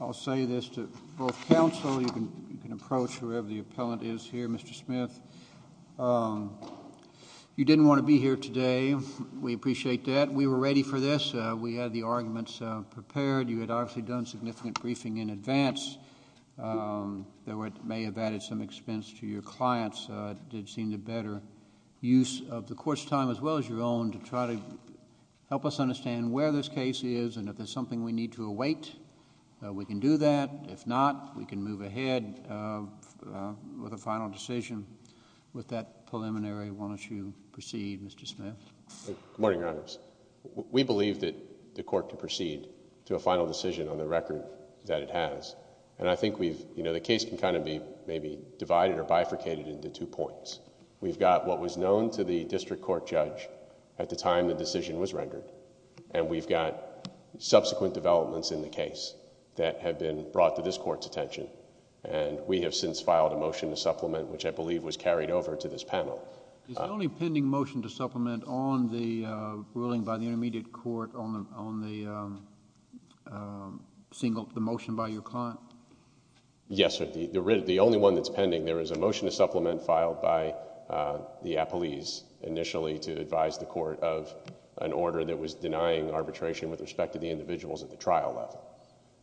I'll say this to both counsel, you can approach whoever the appellant is here, Mr. Smith. You didn't want to be here today. We appreciate that. We were ready for this. We had the arguments prepared. You had obviously done significant briefing in advance. There may have added some expense to your clients. It did seem the better use of the court's time as well as your own to try to help us understand where this case is and if there's something we need to await. We can do that. If not, we can move ahead with a final decision. With that preliminary, why don't you proceed, Mr. Smith. Good morning, Your Honors. We believe that the court can proceed to a final decision on the record that it has. And I think we've, you know, the case can kind of be maybe divided or bifurcated into two points. We've got what was known to the district court judge at the time the decision was rendered. And we've got subsequent developments in the case that have been brought to this court's attention and we have since filed a motion to supplement which I believe was carried over to this panel. Is the only pending motion to supplement on the ruling by the intermediate court on the motion by your client? Yes, sir. The only one that's pending, there is a motion to supplement filed by the appellees initially to advise the court of an order that was denying arbitration with respect to the individuals at the trial level.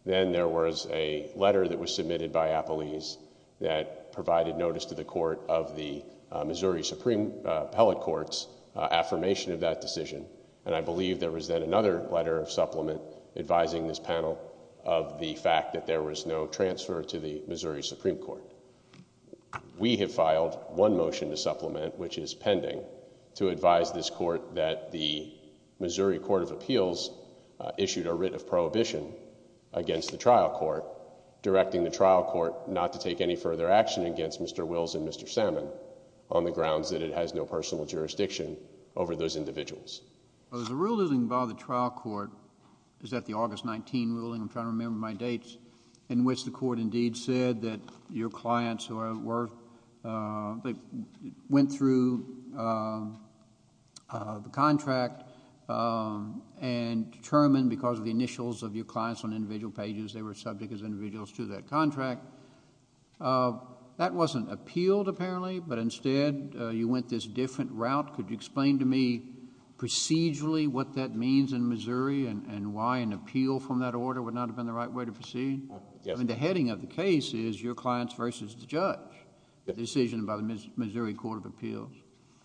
Then there was a letter that was submitted by appellees that provided notice to the court of the Missouri Supreme Appellate Court's affirmation of that decision. And I believe there was then another letter of supplement advising this panel of the Supreme Court. We have filed one motion to supplement, which is pending, to advise this court that the Missouri Court of Appeals issued a writ of prohibition against the trial court, directing the trial court not to take any further action against Mr. Wills and Mr. Salmon on the grounds that it has no personal jurisdiction over those individuals. There's a ruling by the trial court, is that the August 19 ruling, I'm trying to remember my dates, in which the court indeed said that your clients went through the contract and determined because of the initials of your clients on individual pages they were subject as individuals to that contract. That wasn't appealed apparently, but instead you went this different route. Could you explain to me procedurally what that means in Missouri and why an appeal from that order would not have been the right way to proceed? Yes. The heading of the case is your clients versus the judge, the decision by the Missouri Court of Appeals.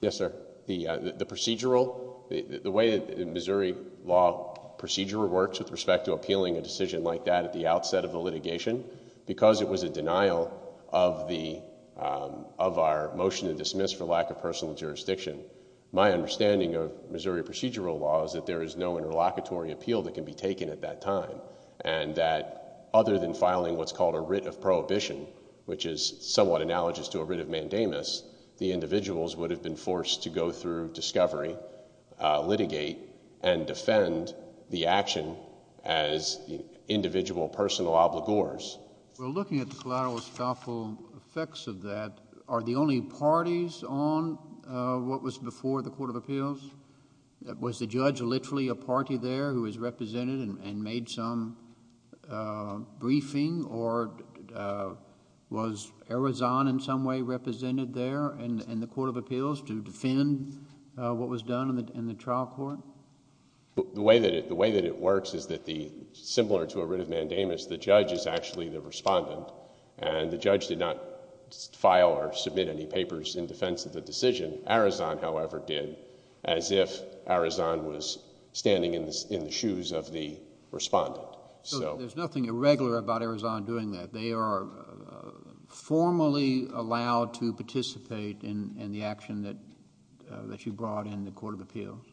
Yes, sir. The procedural, the way the Missouri law procedural works with respect to appealing a decision like that at the outset of the litigation, because it was a denial of our motion to dismiss for lack of personal jurisdiction, my understanding of Missouri procedural law is that there is no interlocutory appeal that can be taken at that time, and that other than filing what's called a writ of prohibition, which is somewhat analogous to a writ of mandamus, the individuals would have been forced to go through discovery, litigate, and defend the action as individual personal obligors. Well, looking at the collateral estoppel effects of that, are the only parties on what was before the Court of Appeals? Was the judge literally a party there who was represented and made some briefing, or was Arizon in some way represented there in the Court of Appeals to defend what was done in the trial court? The way that it works is that the... similar to a writ of mandamus, the judge is actually the respondent, and the judge did not file or submit any papers in defense of the decision. Arizon, however, did, as if Arizon was standing in the shoes of the respondent. So there's nothing irregular about Arizon doing that. They are formally allowed to participate in the action that you brought in the Court of Appeals?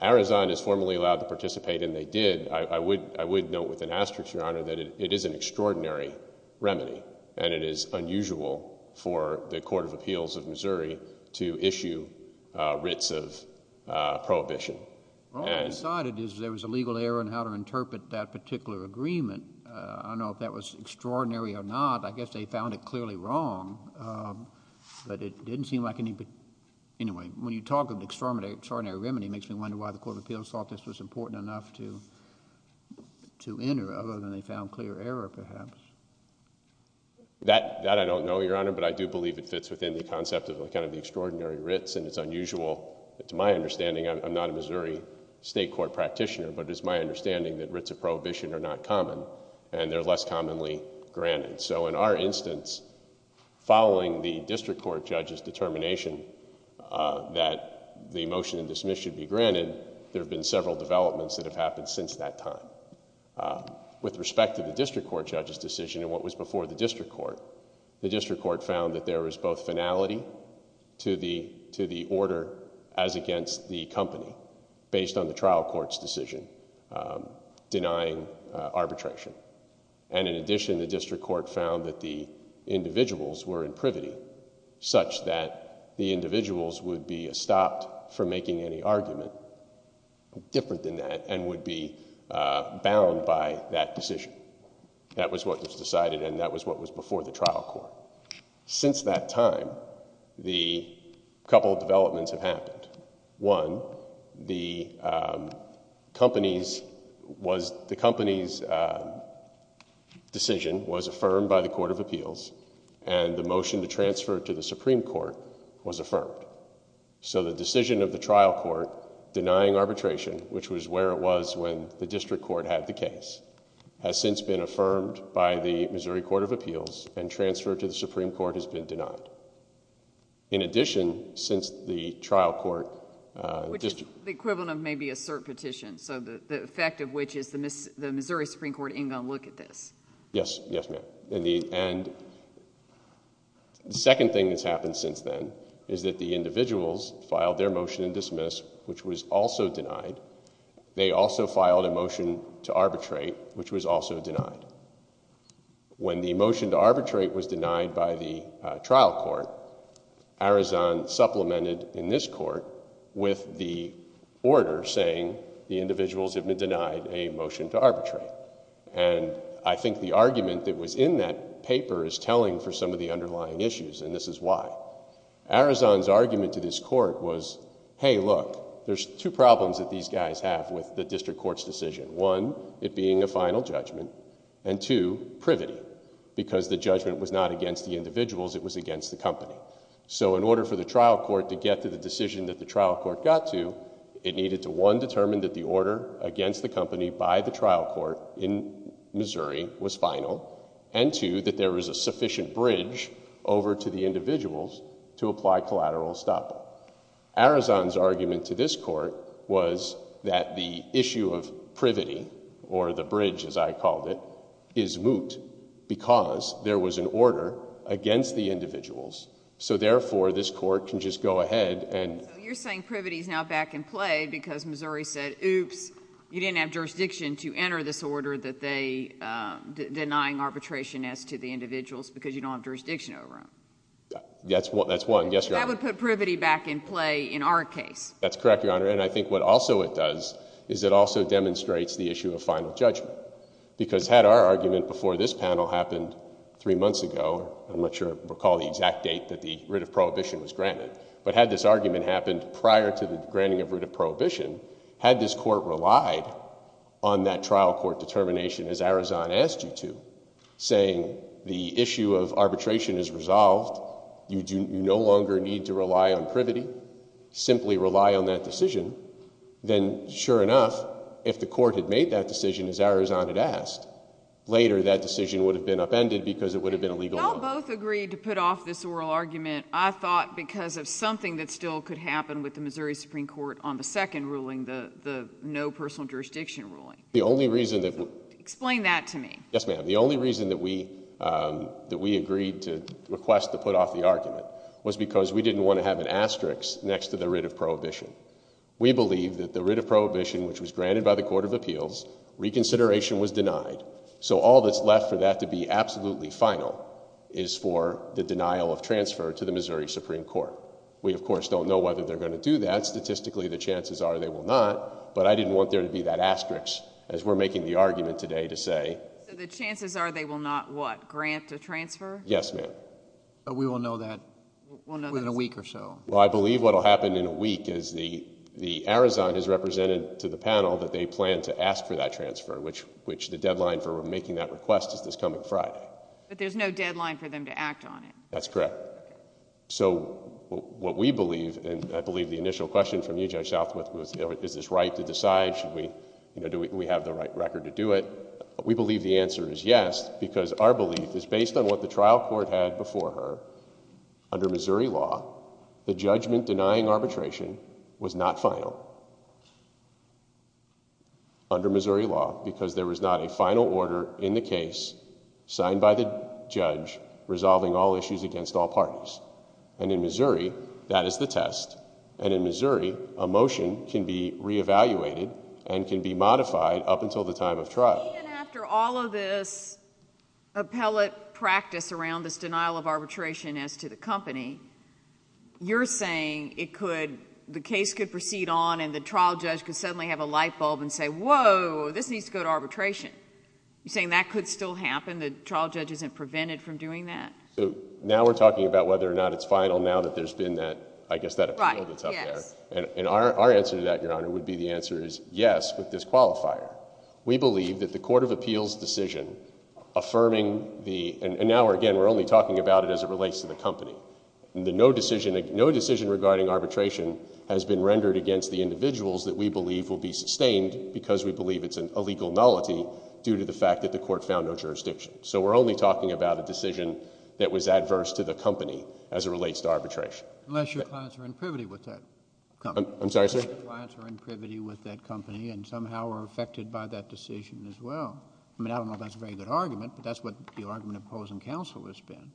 Arizon is formally allowed to participate, and they did. I would note with an asterisk, Your Honor, that it is an extraordinary remedy, and it is unusual for the Court of Appeals of Missouri to issue writs of prohibition. All I decided is there was a legal error in how to interpret that particular agreement. I don't know if that was extraordinary or not. I guess they found it clearly wrong, but it didn't seem like any... anyway, when you talk of extraordinary remedy, it makes me wonder why the Court of Appeals thought this was important enough to enter, other than they found clear error, perhaps. That, I don't know, Your Honor, but I do believe it fits within the concept of the extraordinary writs, and it's unusual, to my understanding, I'm not a Missouri state court practitioner, but it's my understanding that writs of prohibition are not common, and they're less commonly granted. So in our instance, following the district court judge's determination that the motion and dismiss should be granted, there have been several developments that have happened since that time. With respect to the district court judge's decision and what was before the district court, the district court found that there was both finality to the order as against the company, based on the trial court's decision denying arbitration. And in addition, the district court found that the individuals were in privity, such that the individuals would be stopped from making any argument different than that, and would be bound by that decision. That was what was decided, and that was what was before the trial court. Since that time, a couple of developments have happened. One, the company's decision was affirmed by the Court of Appeals, and the motion to transfer to the Supreme Court was affirmed. So the decision of the trial court denying arbitration, which was where it was when the district court had the case, has since been affirmed by the Missouri Court of Appeals, and transfer to the Supreme Court has been denied. In addition, since the trial court... Which is the equivalent of maybe a cert petition, so the effect of which is the Missouri Supreme Court ain't going to look at this. Yes, ma'am. And the second thing that's happened since then is that the individuals filed their motion to dismiss, which was also denied. They also filed a motion to arbitrate, which was also denied. When the motion to arbitrate was denied by the trial court, Arizon supplemented in this court with the order saying the individuals have been denied a motion to arbitrate. And I think the argument that was in that paper is telling for some of the underlying issues, and this is why. Arizon's argument to this court was, hey, look, there's two problems that these guys have with the district court's decision. One, it being a final judgment, and two, privity, because the judgment was not against the individuals, it was against the company. So in order for the trial court to get to the decision that the trial court got to, it needed to, one, determine that the order against the company by the trial court in Missouri was final, and two, that there was a sufficient bridge over to the individuals to apply collateral estoppel. Arizon's argument to this court was that the issue of privity, or the bridge as I called it, is moot because there was an order against the individuals. So therefore, this court can just go ahead and... So you're saying privity is now back in play because Missouri said, oops, you didn't have jurisdiction to enter this order that they... denying arbitration as to the individuals because you don't have jurisdiction over them. That's one. Yes, Your Honor. That would put privity back in play in our case. That's correct, Your Honor. And I think what also it does is it also demonstrates the issue of final judgment, because had our argument before this panel happened three months ago, I'm not sure I recall the exact date that the writ of prohibition was granted, but had this argument happened prior to the granting of writ of prohibition, had this court relied on that trial court determination as Arizon asked you to, saying the issue of arbitration is resolved, you no longer need to rely on privity, simply rely on that decision, then sure enough, if the court had made that decision as Arizon had asked, later that decision would have been upended because it would have been a legal... In the case of the general argument, I thought because of something that still could happen with the Missouri Supreme Court on the second ruling, the no personal jurisdiction ruling. The only reason that... Explain that to me. Yes, ma'am. The only reason that we agreed to request to put off the argument was because we didn't want to have an asterisk next to the writ of prohibition. We believe that the writ of prohibition, which was granted by the Court of Appeals, reconsideration was denied, so all that's left for that to be absolutely final is for the denial of transfer to the Missouri Supreme Court. We, of course, don't know whether they're going to do that. Statistically, the chances are they will not, but I didn't want there to be that asterisk as we're making the argument today to say... So the chances are they will not what? Grant a transfer? Yes, ma'am. But we will know that within a week or so. Well, I believe what will happen in a week is the Arizon has represented to the panel that they plan to ask for that transfer, which the deadline for making that request is this coming Friday. But there's no deadline for them to act on it? That's correct. So what we believe, and I believe the initial question from you, Judge Southworth, was is this right to decide, should we... do we have the right record to do it? We believe the answer is yes, because our belief is based on what the trial court had before her. Under Missouri law, the judgment denying arbitration was not final. Under Missouri law, because there was not a final order in the case signed by the judge resolving all issues against all parties. And in Missouri, that is the test. And in Missouri, a motion can be re-evaluated and can be modified up until the time of trial. Even after all of this appellate practice around this denial of arbitration as to the company, you're saying it could... the case could proceed on and the trial judge could suddenly have a light bulb and say, whoa, this needs to go to arbitration. You're saying that could still happen? The trial judge isn't prevented from doing that? So now we're talking about whether or not it's final now that there's been that, I guess, that appeal that's up there. Right. Yes. And our answer to that, Your Honor, would be the answer is yes with this qualifier. We believe that the court of appeals decision affirming the... and now, again, we're only talking about it as it relates to the company. No decision regarding arbitration has been rendered against the individuals that we believe will be sustained because we believe it's an illegal nullity due to the fact that the litigation. So we're only talking about a decision that was adverse to the company as it relates to arbitration. Unless your clients are in privity with that company. I'm sorry, sir? Unless your clients are in privity with that company and somehow are affected by that decision as well. I mean, I don't know if that's a very good argument, but that's what the argument opposing counsel has been.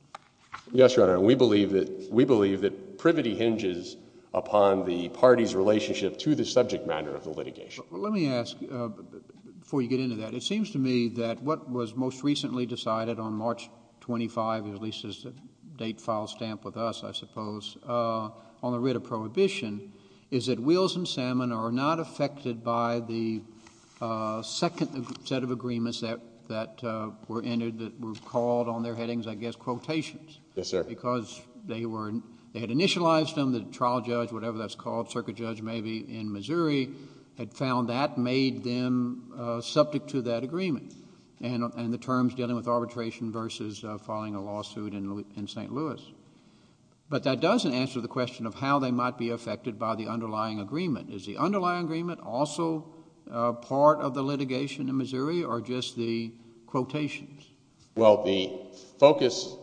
Yes, Your Honor. And we believe that... we believe that privity hinges upon the party's relationship to the subject matter of the litigation. Let me ask, before you get into that, it seems to me that what was most recently decided on March 25, at least as a date file stamp with us, I suppose, on the writ of prohibition is that Wills and Salmon are not affected by the second set of agreements that were entered that were called on their headings, I guess, quotations. Yes, sir. Because they had initialized them, the trial judge, whatever that's called, circuit judge maybe in Missouri, had found that made them subject to that agreement and the terms dealing with arbitration versus filing a lawsuit in St. Louis. But that doesn't answer the question of how they might be affected by the underlying agreement. Is the underlying agreement also part of the litigation in Missouri or just the quotations? Well, the focus...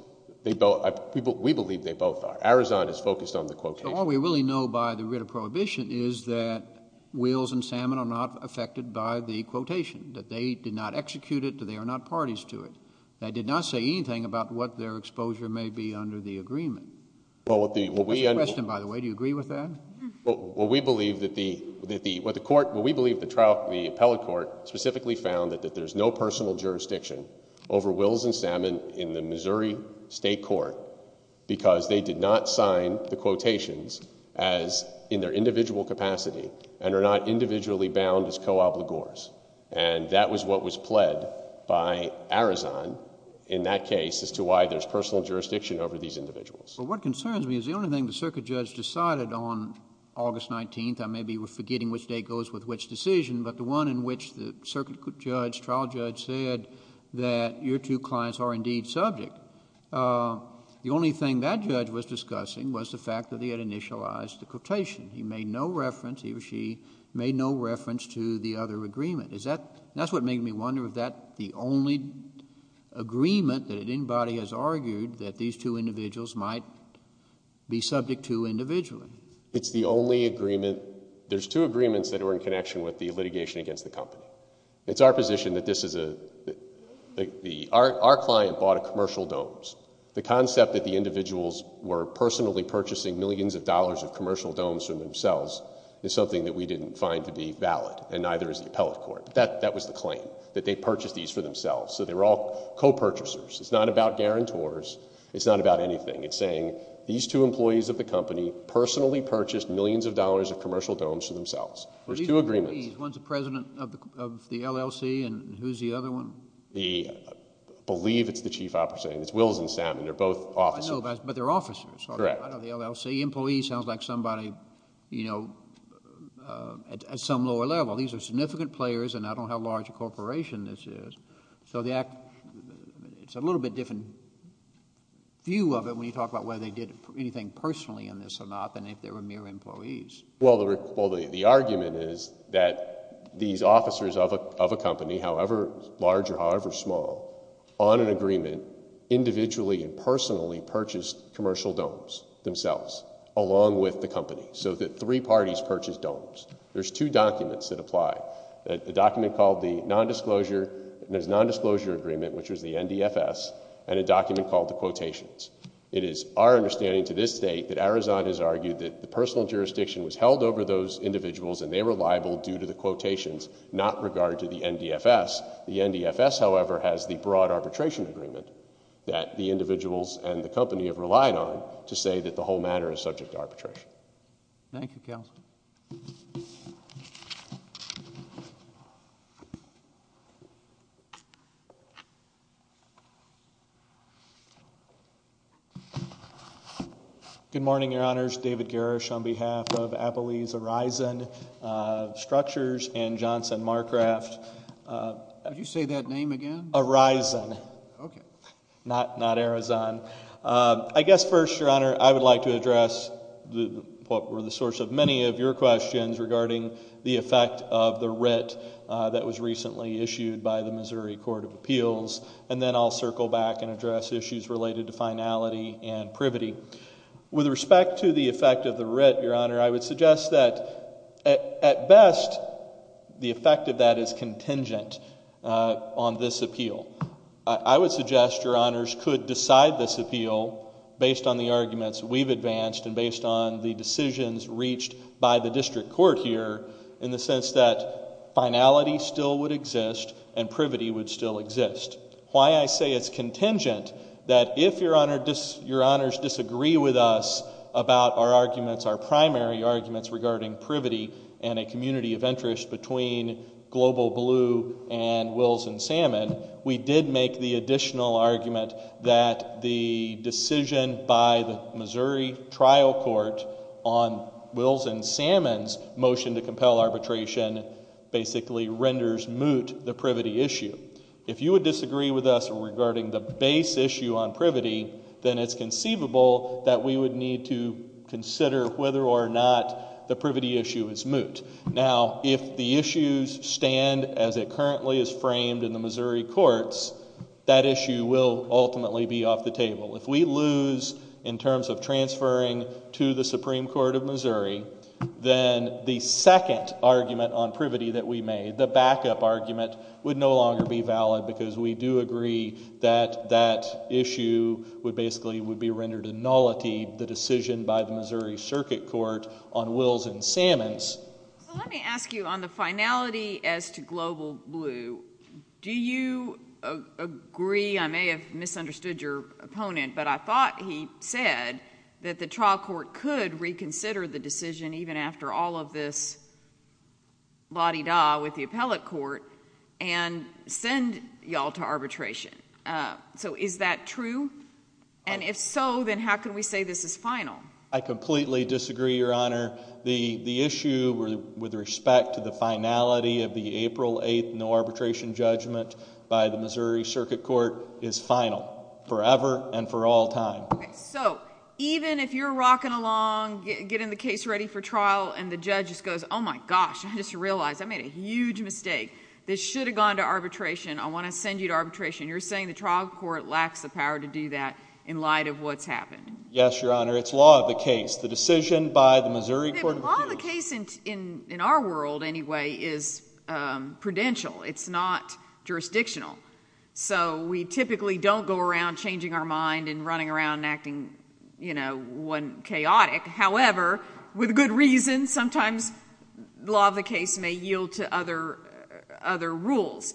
we believe they both are. Arizona is focused on the quotations. But all we really know by the writ of prohibition is that Wills and Salmon are not affected by the quotation, that they did not execute it, that they are not parties to it. They did not say anything about what their exposure may be under the agreement. Mr. Preston, by the way, do you agree with that? Well, we believe that the appellate court specifically found that there's no personal jurisdiction over Wills and Salmon in the Missouri state court because they did not define the quotations as in their individual capacity and are not individually bound as co-obligors. And that was what was pled by Arizona in that case as to why there's personal jurisdiction over these individuals. Well, what concerns me is the only thing the circuit judge decided on August 19th, I may be forgetting which date goes with which decision, but the one in which the circuit judge, trial judge said that your two clients are indeed subject, the only thing that judge was discussing was the fact that he had initialized the quotation. He made no reference, he or she made no reference to the other agreement. Is that, that's what made me wonder if that the only agreement that anybody has argued that these two individuals might be subject to individually. It's the only agreement, there's two agreements that are in connection with the litigation against the company. It's our position that this is a, our client bought a commercial domes. The concept that the individuals were personally purchasing millions of dollars of commercial domes from themselves is something that we didn't find to be valid and neither is the appellate court. But that, that was the claim that they purchased these for themselves. So they were all co-purchasers. It's not about guarantors. It's not about anything. It's saying these two employees of the company personally purchased millions of dollars of commercial domes for themselves. There's two agreements. Well, who's the president of the LLC and who's the other one? The, I believe it's the chief operating, it's Wills and Salmon. They're both officers. I know, but they're officers. Correct. I know the LLC employee sounds like somebody, you know, at some lower level. These are significant players and I don't know how large a corporation this is. So the act, it's a little bit different view of it when you talk about whether they did anything personally in this or not than if they were mere employees. Well, the argument is that these officers of a company, however large or however small, on an agreement, individually and personally purchased commercial domes themselves along with the company. So that three parties purchased domes. There's two documents that apply, a document called the nondisclosure and there's nondisclosure agreement, which was the NDFS and a document called the quotations. It is our understanding to this state that Arizona has argued that the personal jurisdiction was held over those individuals and they were liable due to the quotations, not regard to the NDFS. The NDFS however, has the broad arbitration agreement that the individuals and the company have relied on to say that the whole matter is subject to arbitration. Thank you, Counselor. Good morning, Your Honors. David Garish on behalf of Appelee's Horizon Structures and Johnson Marcraft. Would you say that name again? Horizon. Okay. Not Arizona. I guess first, Your Honor, I would like to address what were the source of many of your questions regarding the effect of the writ that was recently issued by the Missouri Court of Appeals and then I'll circle back and address issues related to finality and privity. With respect to the effect of the writ, Your Honor, I would suggest that at best the effect of that is contingent on this appeal. I would suggest, Your Honors, could decide this appeal based on the arguments we've advanced and based on the decisions reached by the district court here in the sense that finality still would exist and privity would still exist. Why I say it's contingent, that if Your Honors disagree with us about our arguments, our primary arguments regarding privity and a community of interest between Global Blue and Wills and Salmon, we did make the additional argument that the decision by the Missouri trial court on Wills and Salmon's motion to compel arbitration basically renders moot the privity issue. If you would disagree with us regarding the base issue on privity, then it's conceivable that we would need to consider whether or not the privity issue is moot. Now, if the issues stand as it currently is framed in the Missouri courts, that issue will ultimately be off the table. If we lose in terms of transferring to the Supreme Court of Missouri, then the second argument on privity that we made, the backup argument, would no longer be valid because we do agree that that issue would basically be rendered a nullity, the decision by the Let me ask you on the finality as to Global Blue, do you agree, I may have misunderstood your opponent, but I thought he said that the trial court could reconsider the decision even after all of this la-di-da with the appellate court and send y'all to arbitration. So is that true? And if so, then how can we say this is final? I completely disagree, Your Honor. The issue with respect to the finality of the April 8th no arbitration judgment by the Missouri Circuit Court is final, forever and for all time. So even if you're rocking along, getting the case ready for trial, and the judge just goes, oh my gosh, I just realized I made a huge mistake, this should have gone to arbitration, I want to send you to arbitration, you're saying the trial court lacks the power to do that in light of what's happened? Yes, Your Honor. It's law of the case. It's the decision by the Missouri Court of Appeals. Law of the case in our world, anyway, is prudential. It's not jurisdictional. So we typically don't go around changing our mind and running around and acting, you know, chaotic, however, with good reason, sometimes law of the case may yield to other rules.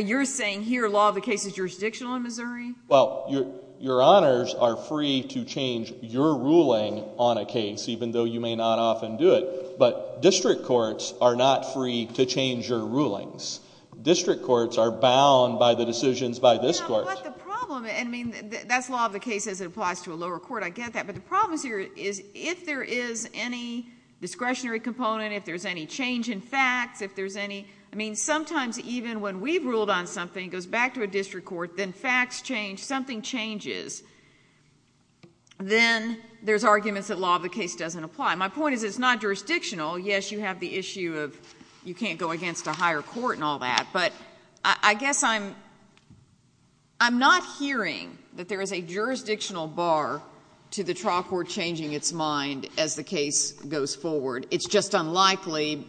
You're saying here law of the case is jurisdictional in Missouri? Well, Your Honors are free to change your ruling on a case, even though you may not often do it, but district courts are not free to change your rulings. District courts are bound by the decisions by this court. But the problem, I mean, that's law of the case as it applies to a lower court, I get that, but the problem here is if there is any discretionary component, if there's any change in facts, if there's any, I mean, sometimes even when we've ruled on something, it goes back to a district court, then facts change, something changes, then there's arguments that law of the case doesn't apply. My point is it's not jurisdictional, yes, you have the issue of you can't go against a higher court and all that, but I guess I'm not hearing that there is a jurisdictional bar to the trial court changing its mind as the case goes forward. It's just unlikely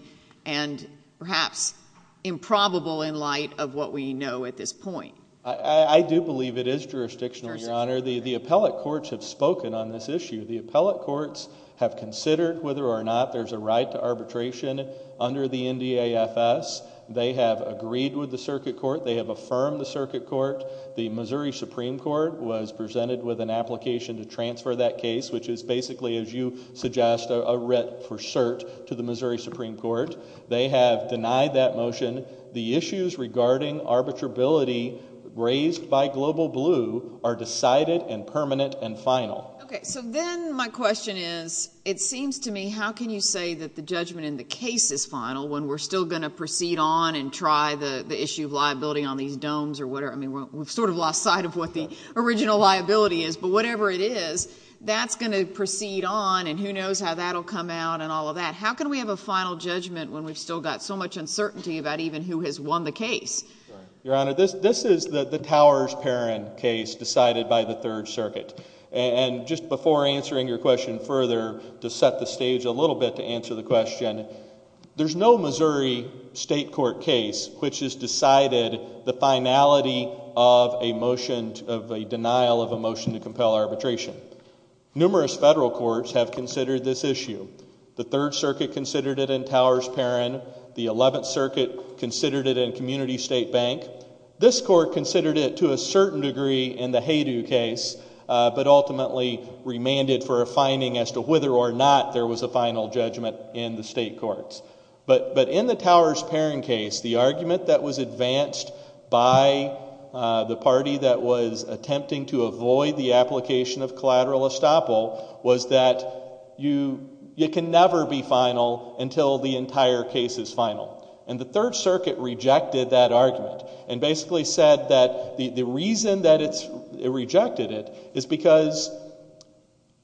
and perhaps improbable in light of what we know at this point. I do believe it is jurisdictional, Your Honor. The appellate courts have spoken on this issue. The appellate courts have considered whether or not there's a right to arbitration under the NDAFS. They have agreed with the circuit court. They have affirmed the circuit court. The Missouri Supreme Court was presented with an application to transfer that case, which is basically, as you suggest, a writ for cert to the Missouri Supreme Court. They have denied that motion. The issues regarding arbitrability raised by Global Blue are decided and permanent and final. Okay. So then my question is, it seems to me, how can you say that the judgment in the case is final when we're still going to proceed on and try the issue of liability on these domes or whatever? I mean, we've sort of lost sight of what the original liability is, but whatever it is, that's going to proceed on, and who knows how that will come out and all of that. How can we have a final judgment when we've still got so much uncertainty about even who has won the case? Your Honor, this is the Towers-Perrin case decided by the Third Circuit. And just before answering your question further, to set the stage a little bit to answer the question, there's no Missouri state court case which has decided the finality of a motion of a denial of a motion to compel arbitration. Numerous federal courts have considered this issue. The Third Circuit considered it in Towers-Perrin. The Eleventh Circuit considered it in Community State Bank. This court considered it to a certain degree in the Haydu case, but ultimately remanded for a finding as to whether or not there was a final judgment in the state courts. But in the Towers-Perrin case, the argument that was advanced by the party that was attempting to avoid the application of collateral estoppel was that you can never be final until the entire case is final. And the Third Circuit rejected that argument and basically said that the reason that it rejected it is because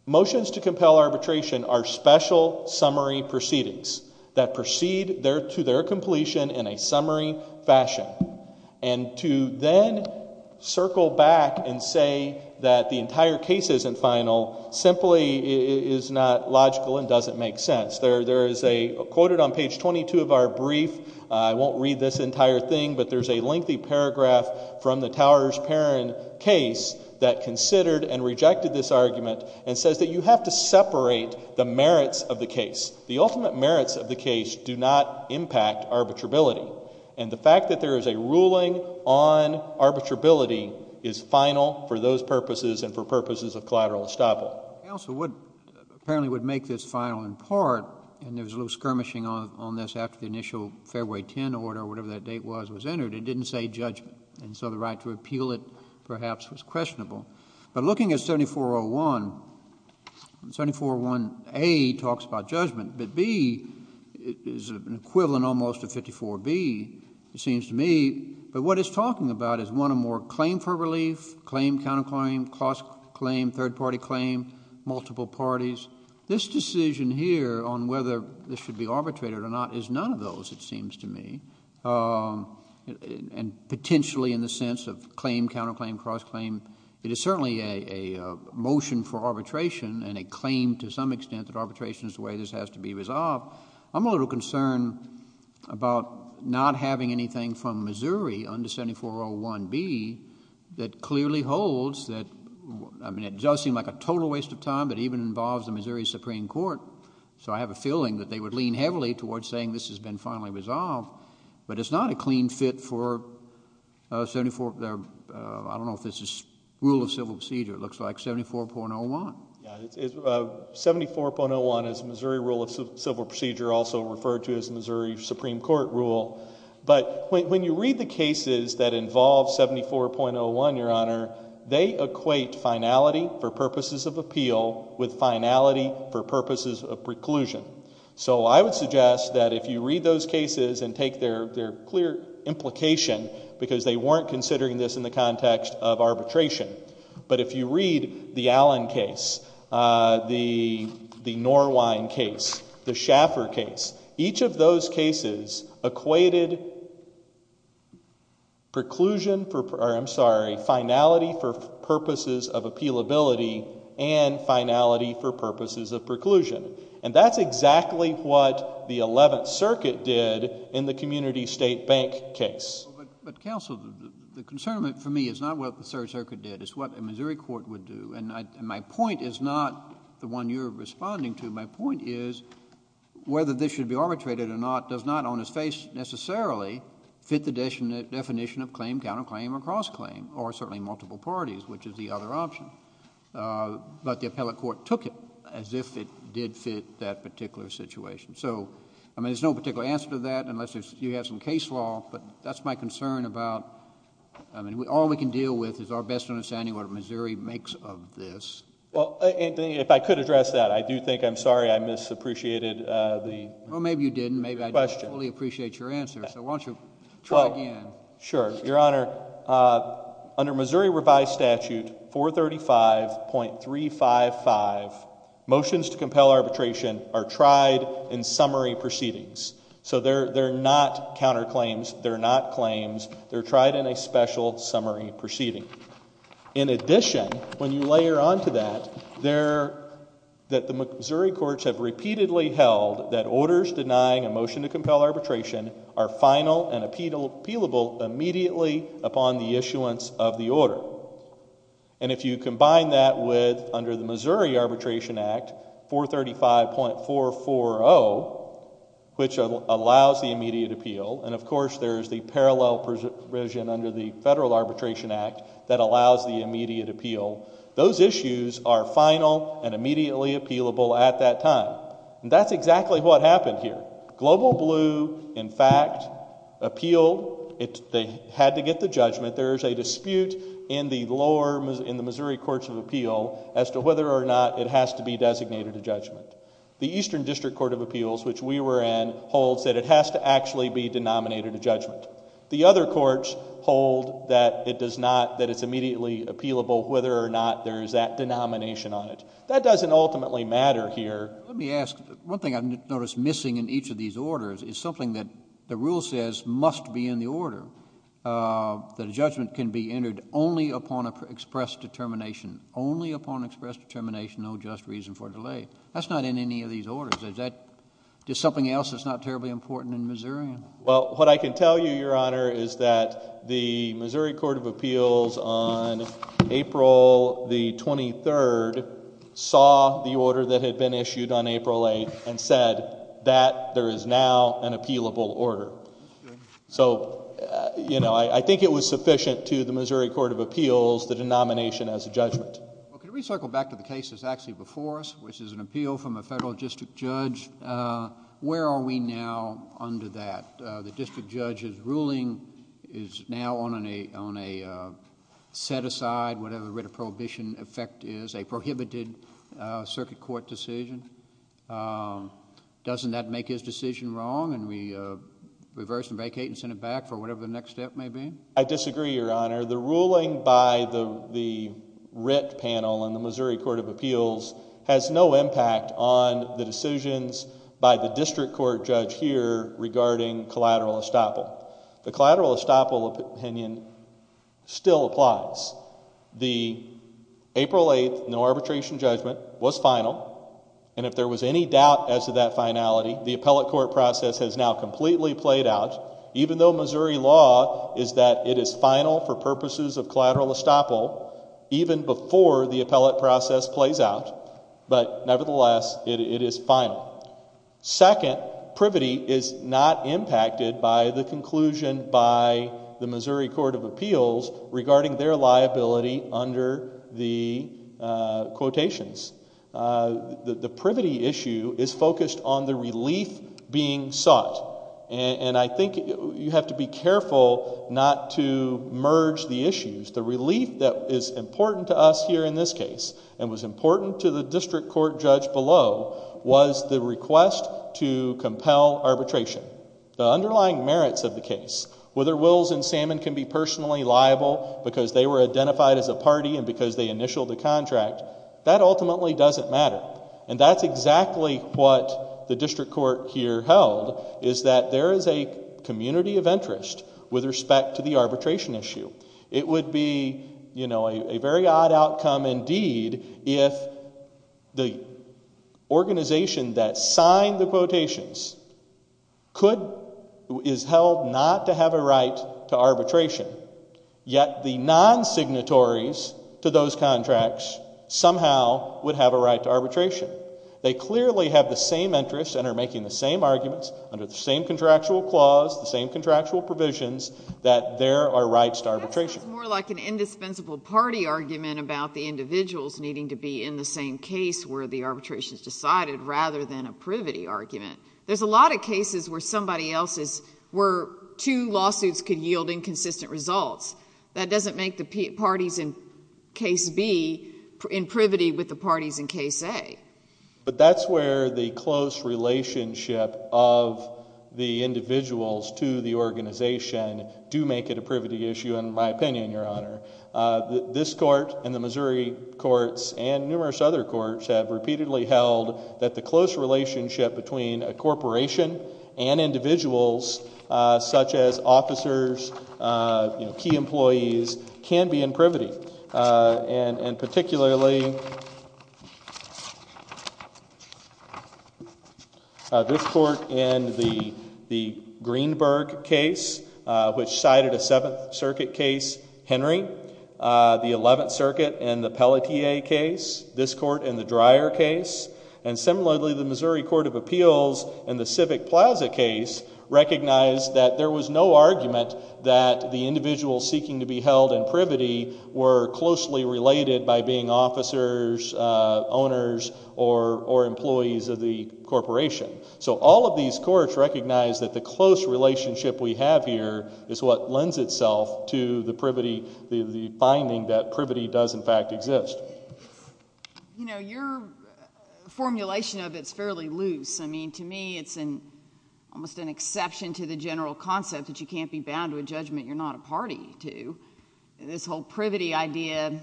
motions to compel arbitration are special summary proceedings. That proceed to their completion in a summary fashion. And to then circle back and say that the entire case isn't final simply is not logical and doesn't make sense. There is a, quoted on page 22 of our brief, I won't read this entire thing, but there's a lengthy paragraph from the Towers-Perrin case that considered and rejected this argument and says that you have to separate the merits of the case. The ultimate merits of the case do not impact arbitrability. And the fact that there is a ruling on arbitrability is final for those purposes and for purposes of collateral estoppel. The counsel would, apparently would make this final in part, and there was a little skirmishing on this after the initial February 10 order, whatever that date was, was entered, it didn't say judgment. And so the right to appeal it perhaps was questionable. But looking at 7401, 7401A talks about judgment, but B is an equivalent almost of 54B, it seems to me. But what it's talking about is one or more claim for relief, claim, counter-claim, cross-claim, third-party claim, multiple parties. This decision here on whether this should be arbitrated or not is none of those, it is certainly a motion for arbitration and a claim to some extent that arbitration is the way this has to be resolved. I'm a little concerned about not having anything from Missouri under 7401B that clearly holds that, I mean, it does seem like a total waste of time, but it even involves the Missouri Supreme Court. So I have a feeling that they would lean heavily towards saying this has been finally resolved. But it's not a clean fit for, I don't know if this is rule of civil procedure, it looks like 7401. Yeah, 7401 is Missouri rule of civil procedure, also referred to as Missouri Supreme Court rule. But when you read the cases that involve 7401, Your Honor, they equate finality for purposes of appeal with finality for purposes of preclusion. So I would suggest that if you read those cases and take their clear implication, because they weren't considering this in the context of arbitration, but if you read the Allen case, the Norwine case, the Schaffer case, each of those cases equated finality for purposes of appealability and finality for purposes of preclusion. And that's exactly what the Eleventh Circuit did in the community state bank case. But, counsel, the concern for me is not what the Third Circuit did, it's what a Missouri court would do. And my point is not the one you're responding to. My point is whether this should be arbitrated or not does not on its face necessarily fit the definition of claim, counterclaim, or cross-claim, or certainly multiple parties, which is the other option. But the appellate court took it as if it did fit that particular situation. So I mean, there's no particular answer to that unless you have some case law, but that's my concern about, I mean, all we can deal with is our best understanding of what Missouri makes of this. Well, Anthony, if I could address that, I do think I'm sorry I misappreciated the question. Well, maybe you didn't. Maybe I didn't fully appreciate your answer, so why don't you try again. Sure. Your Honor, under Missouri Revised Statute 435.355, motions to compel arbitration are tried in summary proceedings. So they're not counterclaims, they're not claims, they're tried in a special summary proceeding. In addition, when you layer onto that, that the Missouri courts have repeatedly held that issuance of the order. And if you combine that with, under the Missouri Arbitration Act, 435.440, which allows the immediate appeal, and of course there's the parallel provision under the Federal Arbitration Act that allows the immediate appeal, those issues are final and immediately appealable at that time. That's exactly what happened here. Global Blue, in fact, appealed, they had to get the judgment. There's a dispute in the lower, in the Missouri Courts of Appeal, as to whether or not it has to be designated a judgment. The Eastern District Court of Appeals, which we were in, holds that it has to actually be denominated a judgment. The other courts hold that it does not, that it's immediately appealable whether or not there is that denomination on it. That doesn't ultimately matter here. Let me ask, one thing I've noticed missing in each of these orders is something that the rule says must be in the order. That a judgment can be entered only upon express determination. Only upon express determination, no just reason for delay. That's not in any of these orders. Is that just something else that's not terribly important in Missourian? Well, what I can tell you, Your Honor, is that the Missouri Court of Appeals on April the 23rd saw the order that had been issued on April 8th and said that there is now an appealable order. So you know, I think it was sufficient to the Missouri Court of Appeals the denomination as a judgment. Well, can we circle back to the case that's actually before us, which is an appeal from a federal district judge? Where are we now under that? The district judge's ruling is now on a set-aside, whatever the writ of prohibition effect is, a prohibited circuit court decision. Doesn't that make his decision wrong and we reverse and vacate and send it back for whatever the next step may be? I disagree, Your Honor. The ruling by the writ panel in the Missouri Court of Appeals has no impact on the decisions by the district court judge here regarding collateral estoppel. The collateral estoppel opinion still applies. The April 8th no-arbitration judgment was final, and if there was any doubt as to that finality, the appellate court process has now completely played out, even though Missouri law is that it is final for purposes of collateral estoppel, even before the appellate process plays out. But nevertheless, it is final. Second, privity is not impacted by the conclusion by the Missouri Court of Appeals regarding their liability under the quotations. The privity issue is focused on the relief being sought, and I think you have to be careful not to merge the issues. The relief that is important to us here in this case, and was important to the district court judge below, was the request to compel arbitration. The underlying merits of the case, whether Wills and Salmon can be personally liable because they were identified as a party and because they initialed the contract, that ultimately doesn't matter. And that's exactly what the district court here held, is that there is a community of interest with respect to the arbitration issue. It would be, you know, a very odd outcome indeed if the organization that signed the quotations could, is held not to have a right to arbitration, yet the non-signatories to those contracts somehow would have a right to arbitration. They clearly have the same interests and are making the same arguments, under the same It's more like an indispensable party argument about the individuals needing to be in the same case where the arbitration is decided, rather than a privity argument. There's a lot of cases where somebody else's, where two lawsuits could yield inconsistent results. That doesn't make the parties in case B in privity with the parties in case A. But that's where the close relationship of the individuals to the organization do make it a privity issue, in my opinion, your honor. This court and the Missouri courts and numerous other courts have repeatedly held that the close relationship between a corporation and individuals, such as officers, key employees, can be in privity. And particularly, this court in the Greenberg case, which cited a 7th Circuit case, Henry, the 11th Circuit in the Pelletier case, this court in the Dreyer case, and similarly the Missouri Court of Appeals in the Civic Plaza case recognized that there was no argument that the individuals seeking to be held in privity were closely related by being officers, owners, or employees of the corporation. So all of these courts recognize that the close relationship we have here is what lends itself to the finding that privity does, in fact, exist. You know, your formulation of it is fairly loose. I mean, to me, it's almost an exception to the general concept that you can't be bound to a judgment you're not a party to. This whole privity idea,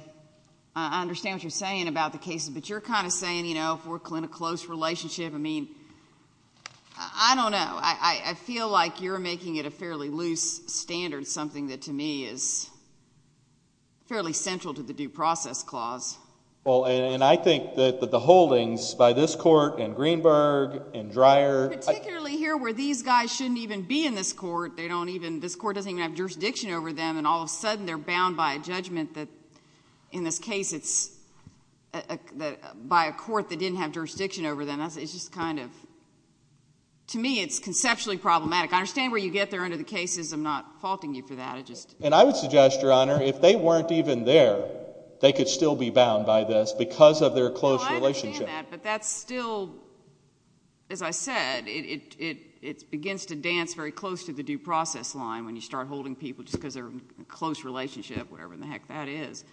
I understand what you're saying about the cases, but you're kind of saying, you know, if we're in a close relationship, I mean, I don't know. I feel like you're making it a fairly loose standard, something that, to me, is fairly central to the due process clause. Well, and I think that the holdings by this court and Greenberg and Dreyer— Particularly here where these guys shouldn't even be in this court. They don't even—this court doesn't even have jurisdiction over them, and all of a sudden they're bound by a judgment that, in this case, it's by a court that didn't have jurisdiction over them. It's just kind of—to me, it's conceptually problematic. I understand where you get there under the cases. I'm not faulting you for that. And I would suggest, Your Honor, if they weren't even there, they could still be bound by this because of their close relationship. No, I understand that, but that's still—as I said, it begins to dance very close to the due process line when you start holding people just because they're in a close relationship, whatever the heck that is.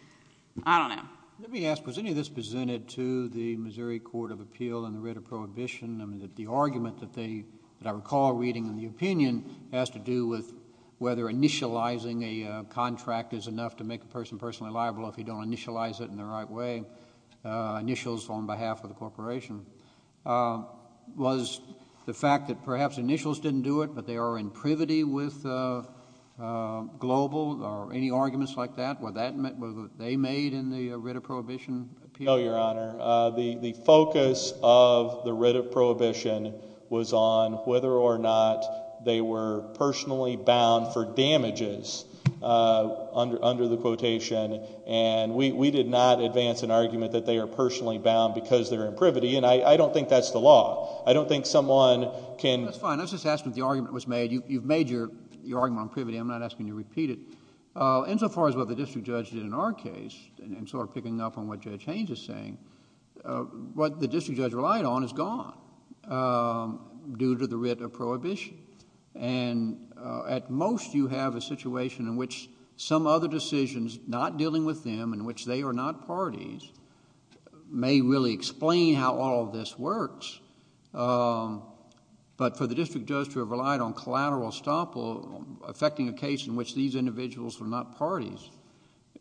I don't know. Let me ask, was any of this presented to the Missouri Court of Appeal and the writ of prohibition? I mean, the argument that they—that I recall reading in the opinion has to do with whether initializing a contract is enough to make a person personally liable if you don't initialize it in the right way, initials on behalf of the corporation. Was the fact that perhaps initials didn't do it, but they are in privity with global or any arguments like that, was that what they made in the writ of prohibition appeal? No, Your Honor. The focus of the writ of prohibition was on whether or not they were personally bound for damages under the quotation, and we did not advance an argument that they are personally bound because they're in privity, and I don't think that's the law. I don't think someone can... That's fine. I was just asking if the argument was made. You've made your argument on privity. I'm not asking you to repeat it. Insofar as what the district judge did in our case, and sort of picking up on what Judge Haynes is saying, what the district judge relied on is gone due to the writ of prohibition. At most, you have a situation in which some other decisions, not dealing with them, in which they are not parties, may really explain how all of this works, but for the district judge to have relied on collateral estoppel affecting a case in which these individuals were not parties,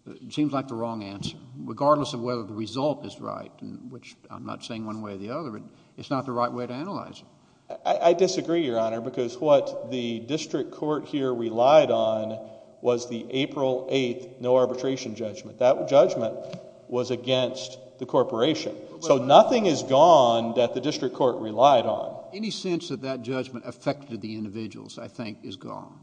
it seems like the wrong answer, regardless of whether the result is right, which I'm not saying one way or the other, it's not the right way to analyze it. I disagree, Your Honor, because what the district court here relied on was the April 8th no arbitration judgment. That judgment was against the corporation. So nothing is gone that the district court relied on. Any sense that that judgment affected the individuals, I think, is gone.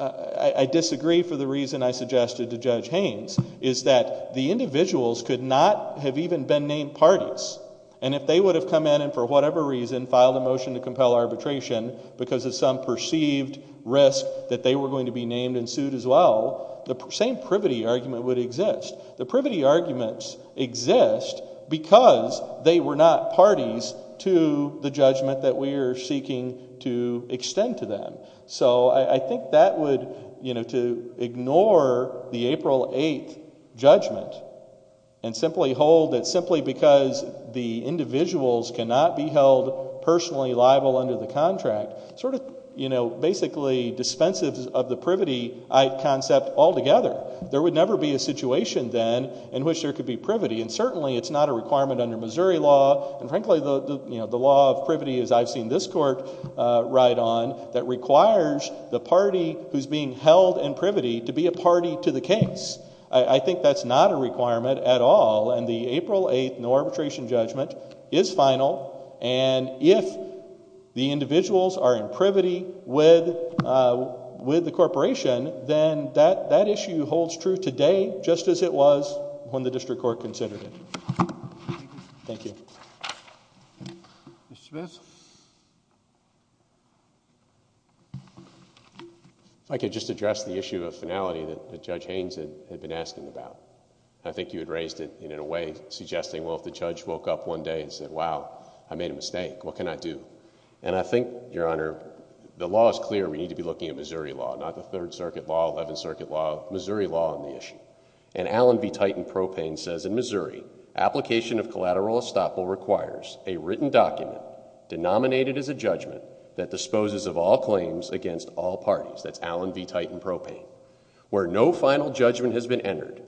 I disagree for the reason I suggested to Judge Haynes, is that the individuals could not have even been named parties, and if they would have come in and for whatever reason filed a motion to compel arbitration because of some perceived risk that they were going to be named and sued as well, the same privity argument would exist. The privity arguments exist because they were not parties to the judgment that we are seeking to extend to them. So I think that would, you know, to ignore the April 8th judgment and simply hold that simply because the individuals cannot be held personally liable under the contract, sort of, you know, basically dispenses of the privity concept altogether. There would never be a situation then in which there could be privity, and certainly it's not a requirement under Missouri law, and frankly, you know, the law of privity as I've seen this court ride on, that requires the party who's being held in privity to be a party to the case. I think that's not a requirement at all, and the April 8th arbitration judgment is final, and if the individuals are in privity with the corporation, then that issue holds true today just as it was when the district court considered it. Thank you. Mr. Smith? If I could just address the issue of finality that Judge Haynes had been asking about. I think you had raised it in a way suggesting, well, if the judge woke up one day and said, wow, I made a mistake, what can I do? And I think, Your Honor, the law is clear. We need to be looking at Missouri law, not the Third Circuit law, Eleventh Circuit law, Missouri law on the issue. And Allen v. Titan Propane says, in Missouri, application of collateral estoppel requires a written document, denominated as a judgment, that disposes of all claims against all parties. That's Allen v. Titan Propane. Where no final judgment has been entered,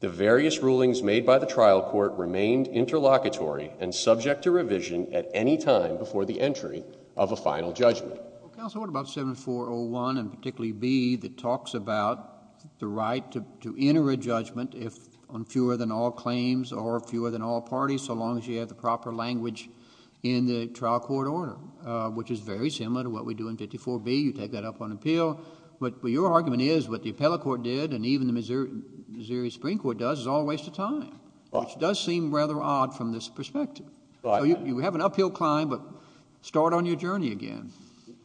the various rulings made by the trial court remained interlocutory and subject to revision at any time before the entry of a final judgment. Counsel, what about 7401 and particularly B that talks about the right to enter a judgment if on fewer than all claims or fewer than all parties, so long as you have the proper language in the trial court order, which is very similar to what we do in 54B. You take that up on appeal. But your argument is what the appellate court did and even the Missouri Supreme Court does is all a waste of time, which does seem rather odd from this perspective. You have an uphill climb, but start on your journey again.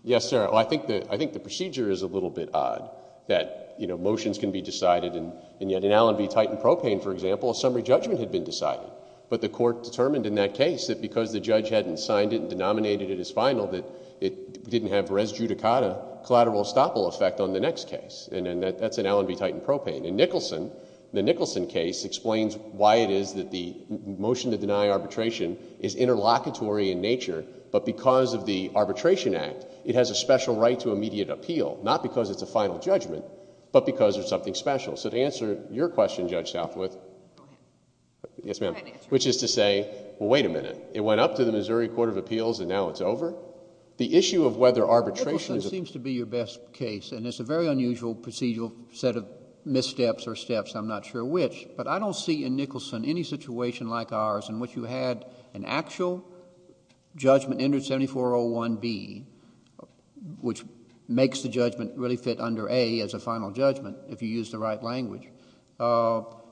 Yes, sir. I think the procedure is a little bit odd, that motions can be decided, and yet in Allen v. Titan Propane, for example, a summary judgment had been decided. But the court determined in that case that because the judge hadn't signed it and denominated it as final, that it didn't have res judicata collateral estoppel effect on the next case. And that's in Allen v. Titan Propane. In Nicholson, the Nicholson case explains why it is that the motion to deny arbitration is interlocutory in nature, but because of the Arbitration Act, it has a special right to immediate appeal, not because it's a final judgment, but because it's something special. So to answer your question, Judge Southworth, which is to say, well, wait a minute. It went up to the Missouri Court of Appeals and now it's over? The issue of whether arbitration... Nicholson seems to be your best case, and it's a very unusual procedural set of missteps or steps, I'm not sure which, but I don't see in Nicholson any situation like ours in which you had an actual judgment entered 7401B, which makes the judgment really fit under A as a final judgment, if you use the right language.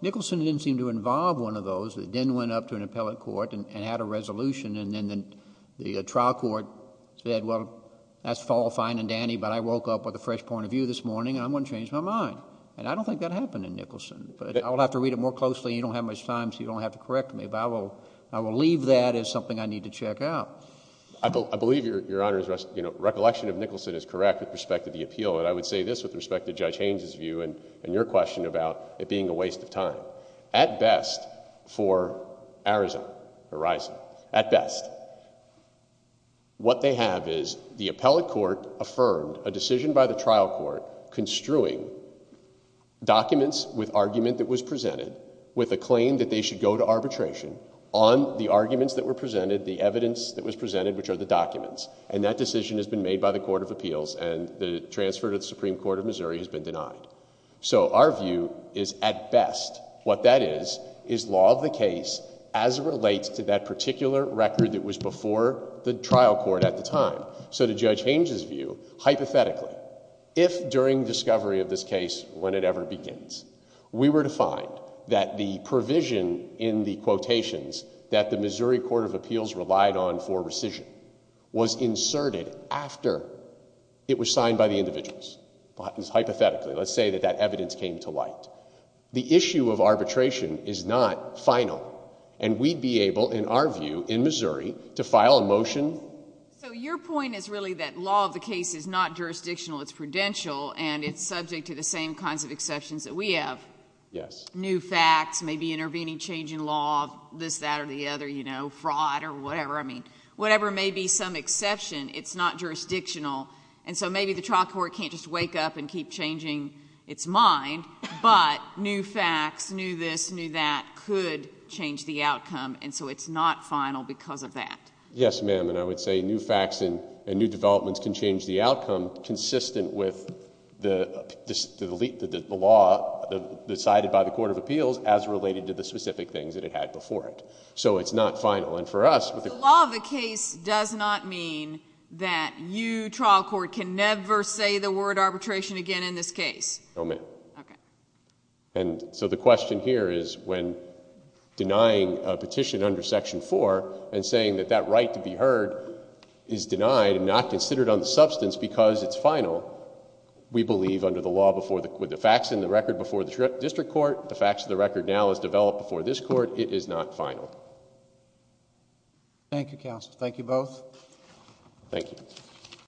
Nicholson didn't seem to involve one of those. It then went up to an appellate court and had a resolution, and then the trial court said, well, that's fine and dandy, but I woke up with a fresh point of view this morning and I'm going to change my mind. And I don't think that happened in Nicholson, but I will have to read it more closely. You don't have much time, so you don't have to correct me, but I will leave that as something I need to check out. I believe, Your Honor, recollection of Nicholson is correct with respect to the appeal, and I would say this with respect to Judge Haynes' view and your question about it being a waste of time. At best for Ariza, what they have is the appellate court affirmed a decision by the trial court construing documents with argument that was presented with a claim that they should go to arbitration on the arguments that were presented, the evidence that was presented, which are the documents, and that decision has been made by the Court of Appeals and the transfer to the Supreme Court of Missouri has been denied. So our view is, at best, what that is, is law of the case as it relates to that particular record that was before the trial court at the time. So to Judge Haynes' view, hypothetically, if during discovery of this case, when it ever begins, we were to find that the provision in the quotations that the Missouri Court of Appeals relied on for rescission was inserted after it was signed by the individuals, hypothetically, let's say that that evidence came to light, the issue of arbitration is not final, and we'd be able, in our view, in Missouri, to file a motion... So your point is really that law of the case is not jurisdictional, it's prudential, and it's subject to the same kinds of exceptions that we have. Yes. New facts, maybe intervening change in law, this, that, or the other, you know, fraud or whatever, I mean, whatever may be some exception, it's not jurisdictional. And so maybe the trial court can't just wake up and keep changing its mind, but new facts, new this, new that, could change the outcome, and so it's not final because of that. Yes, ma'am, and I would say new facts and new developments can change the outcome consistent with the law decided by the Court of Appeals as related to the specific things that it had before it. So it's not final. And for us... So the law of the case does not mean that you, trial court, can never say the word arbitration again in this case? No, ma'am. Okay. And so the question here is when denying a petition under Section 4 and saying that that is not considered on the substance because it's final, we believe under the law before the... with the facts in the record before the district court, the facts of the record now as developed before this court, it is not final. Thank you, counsel. Thank you both. Thank you.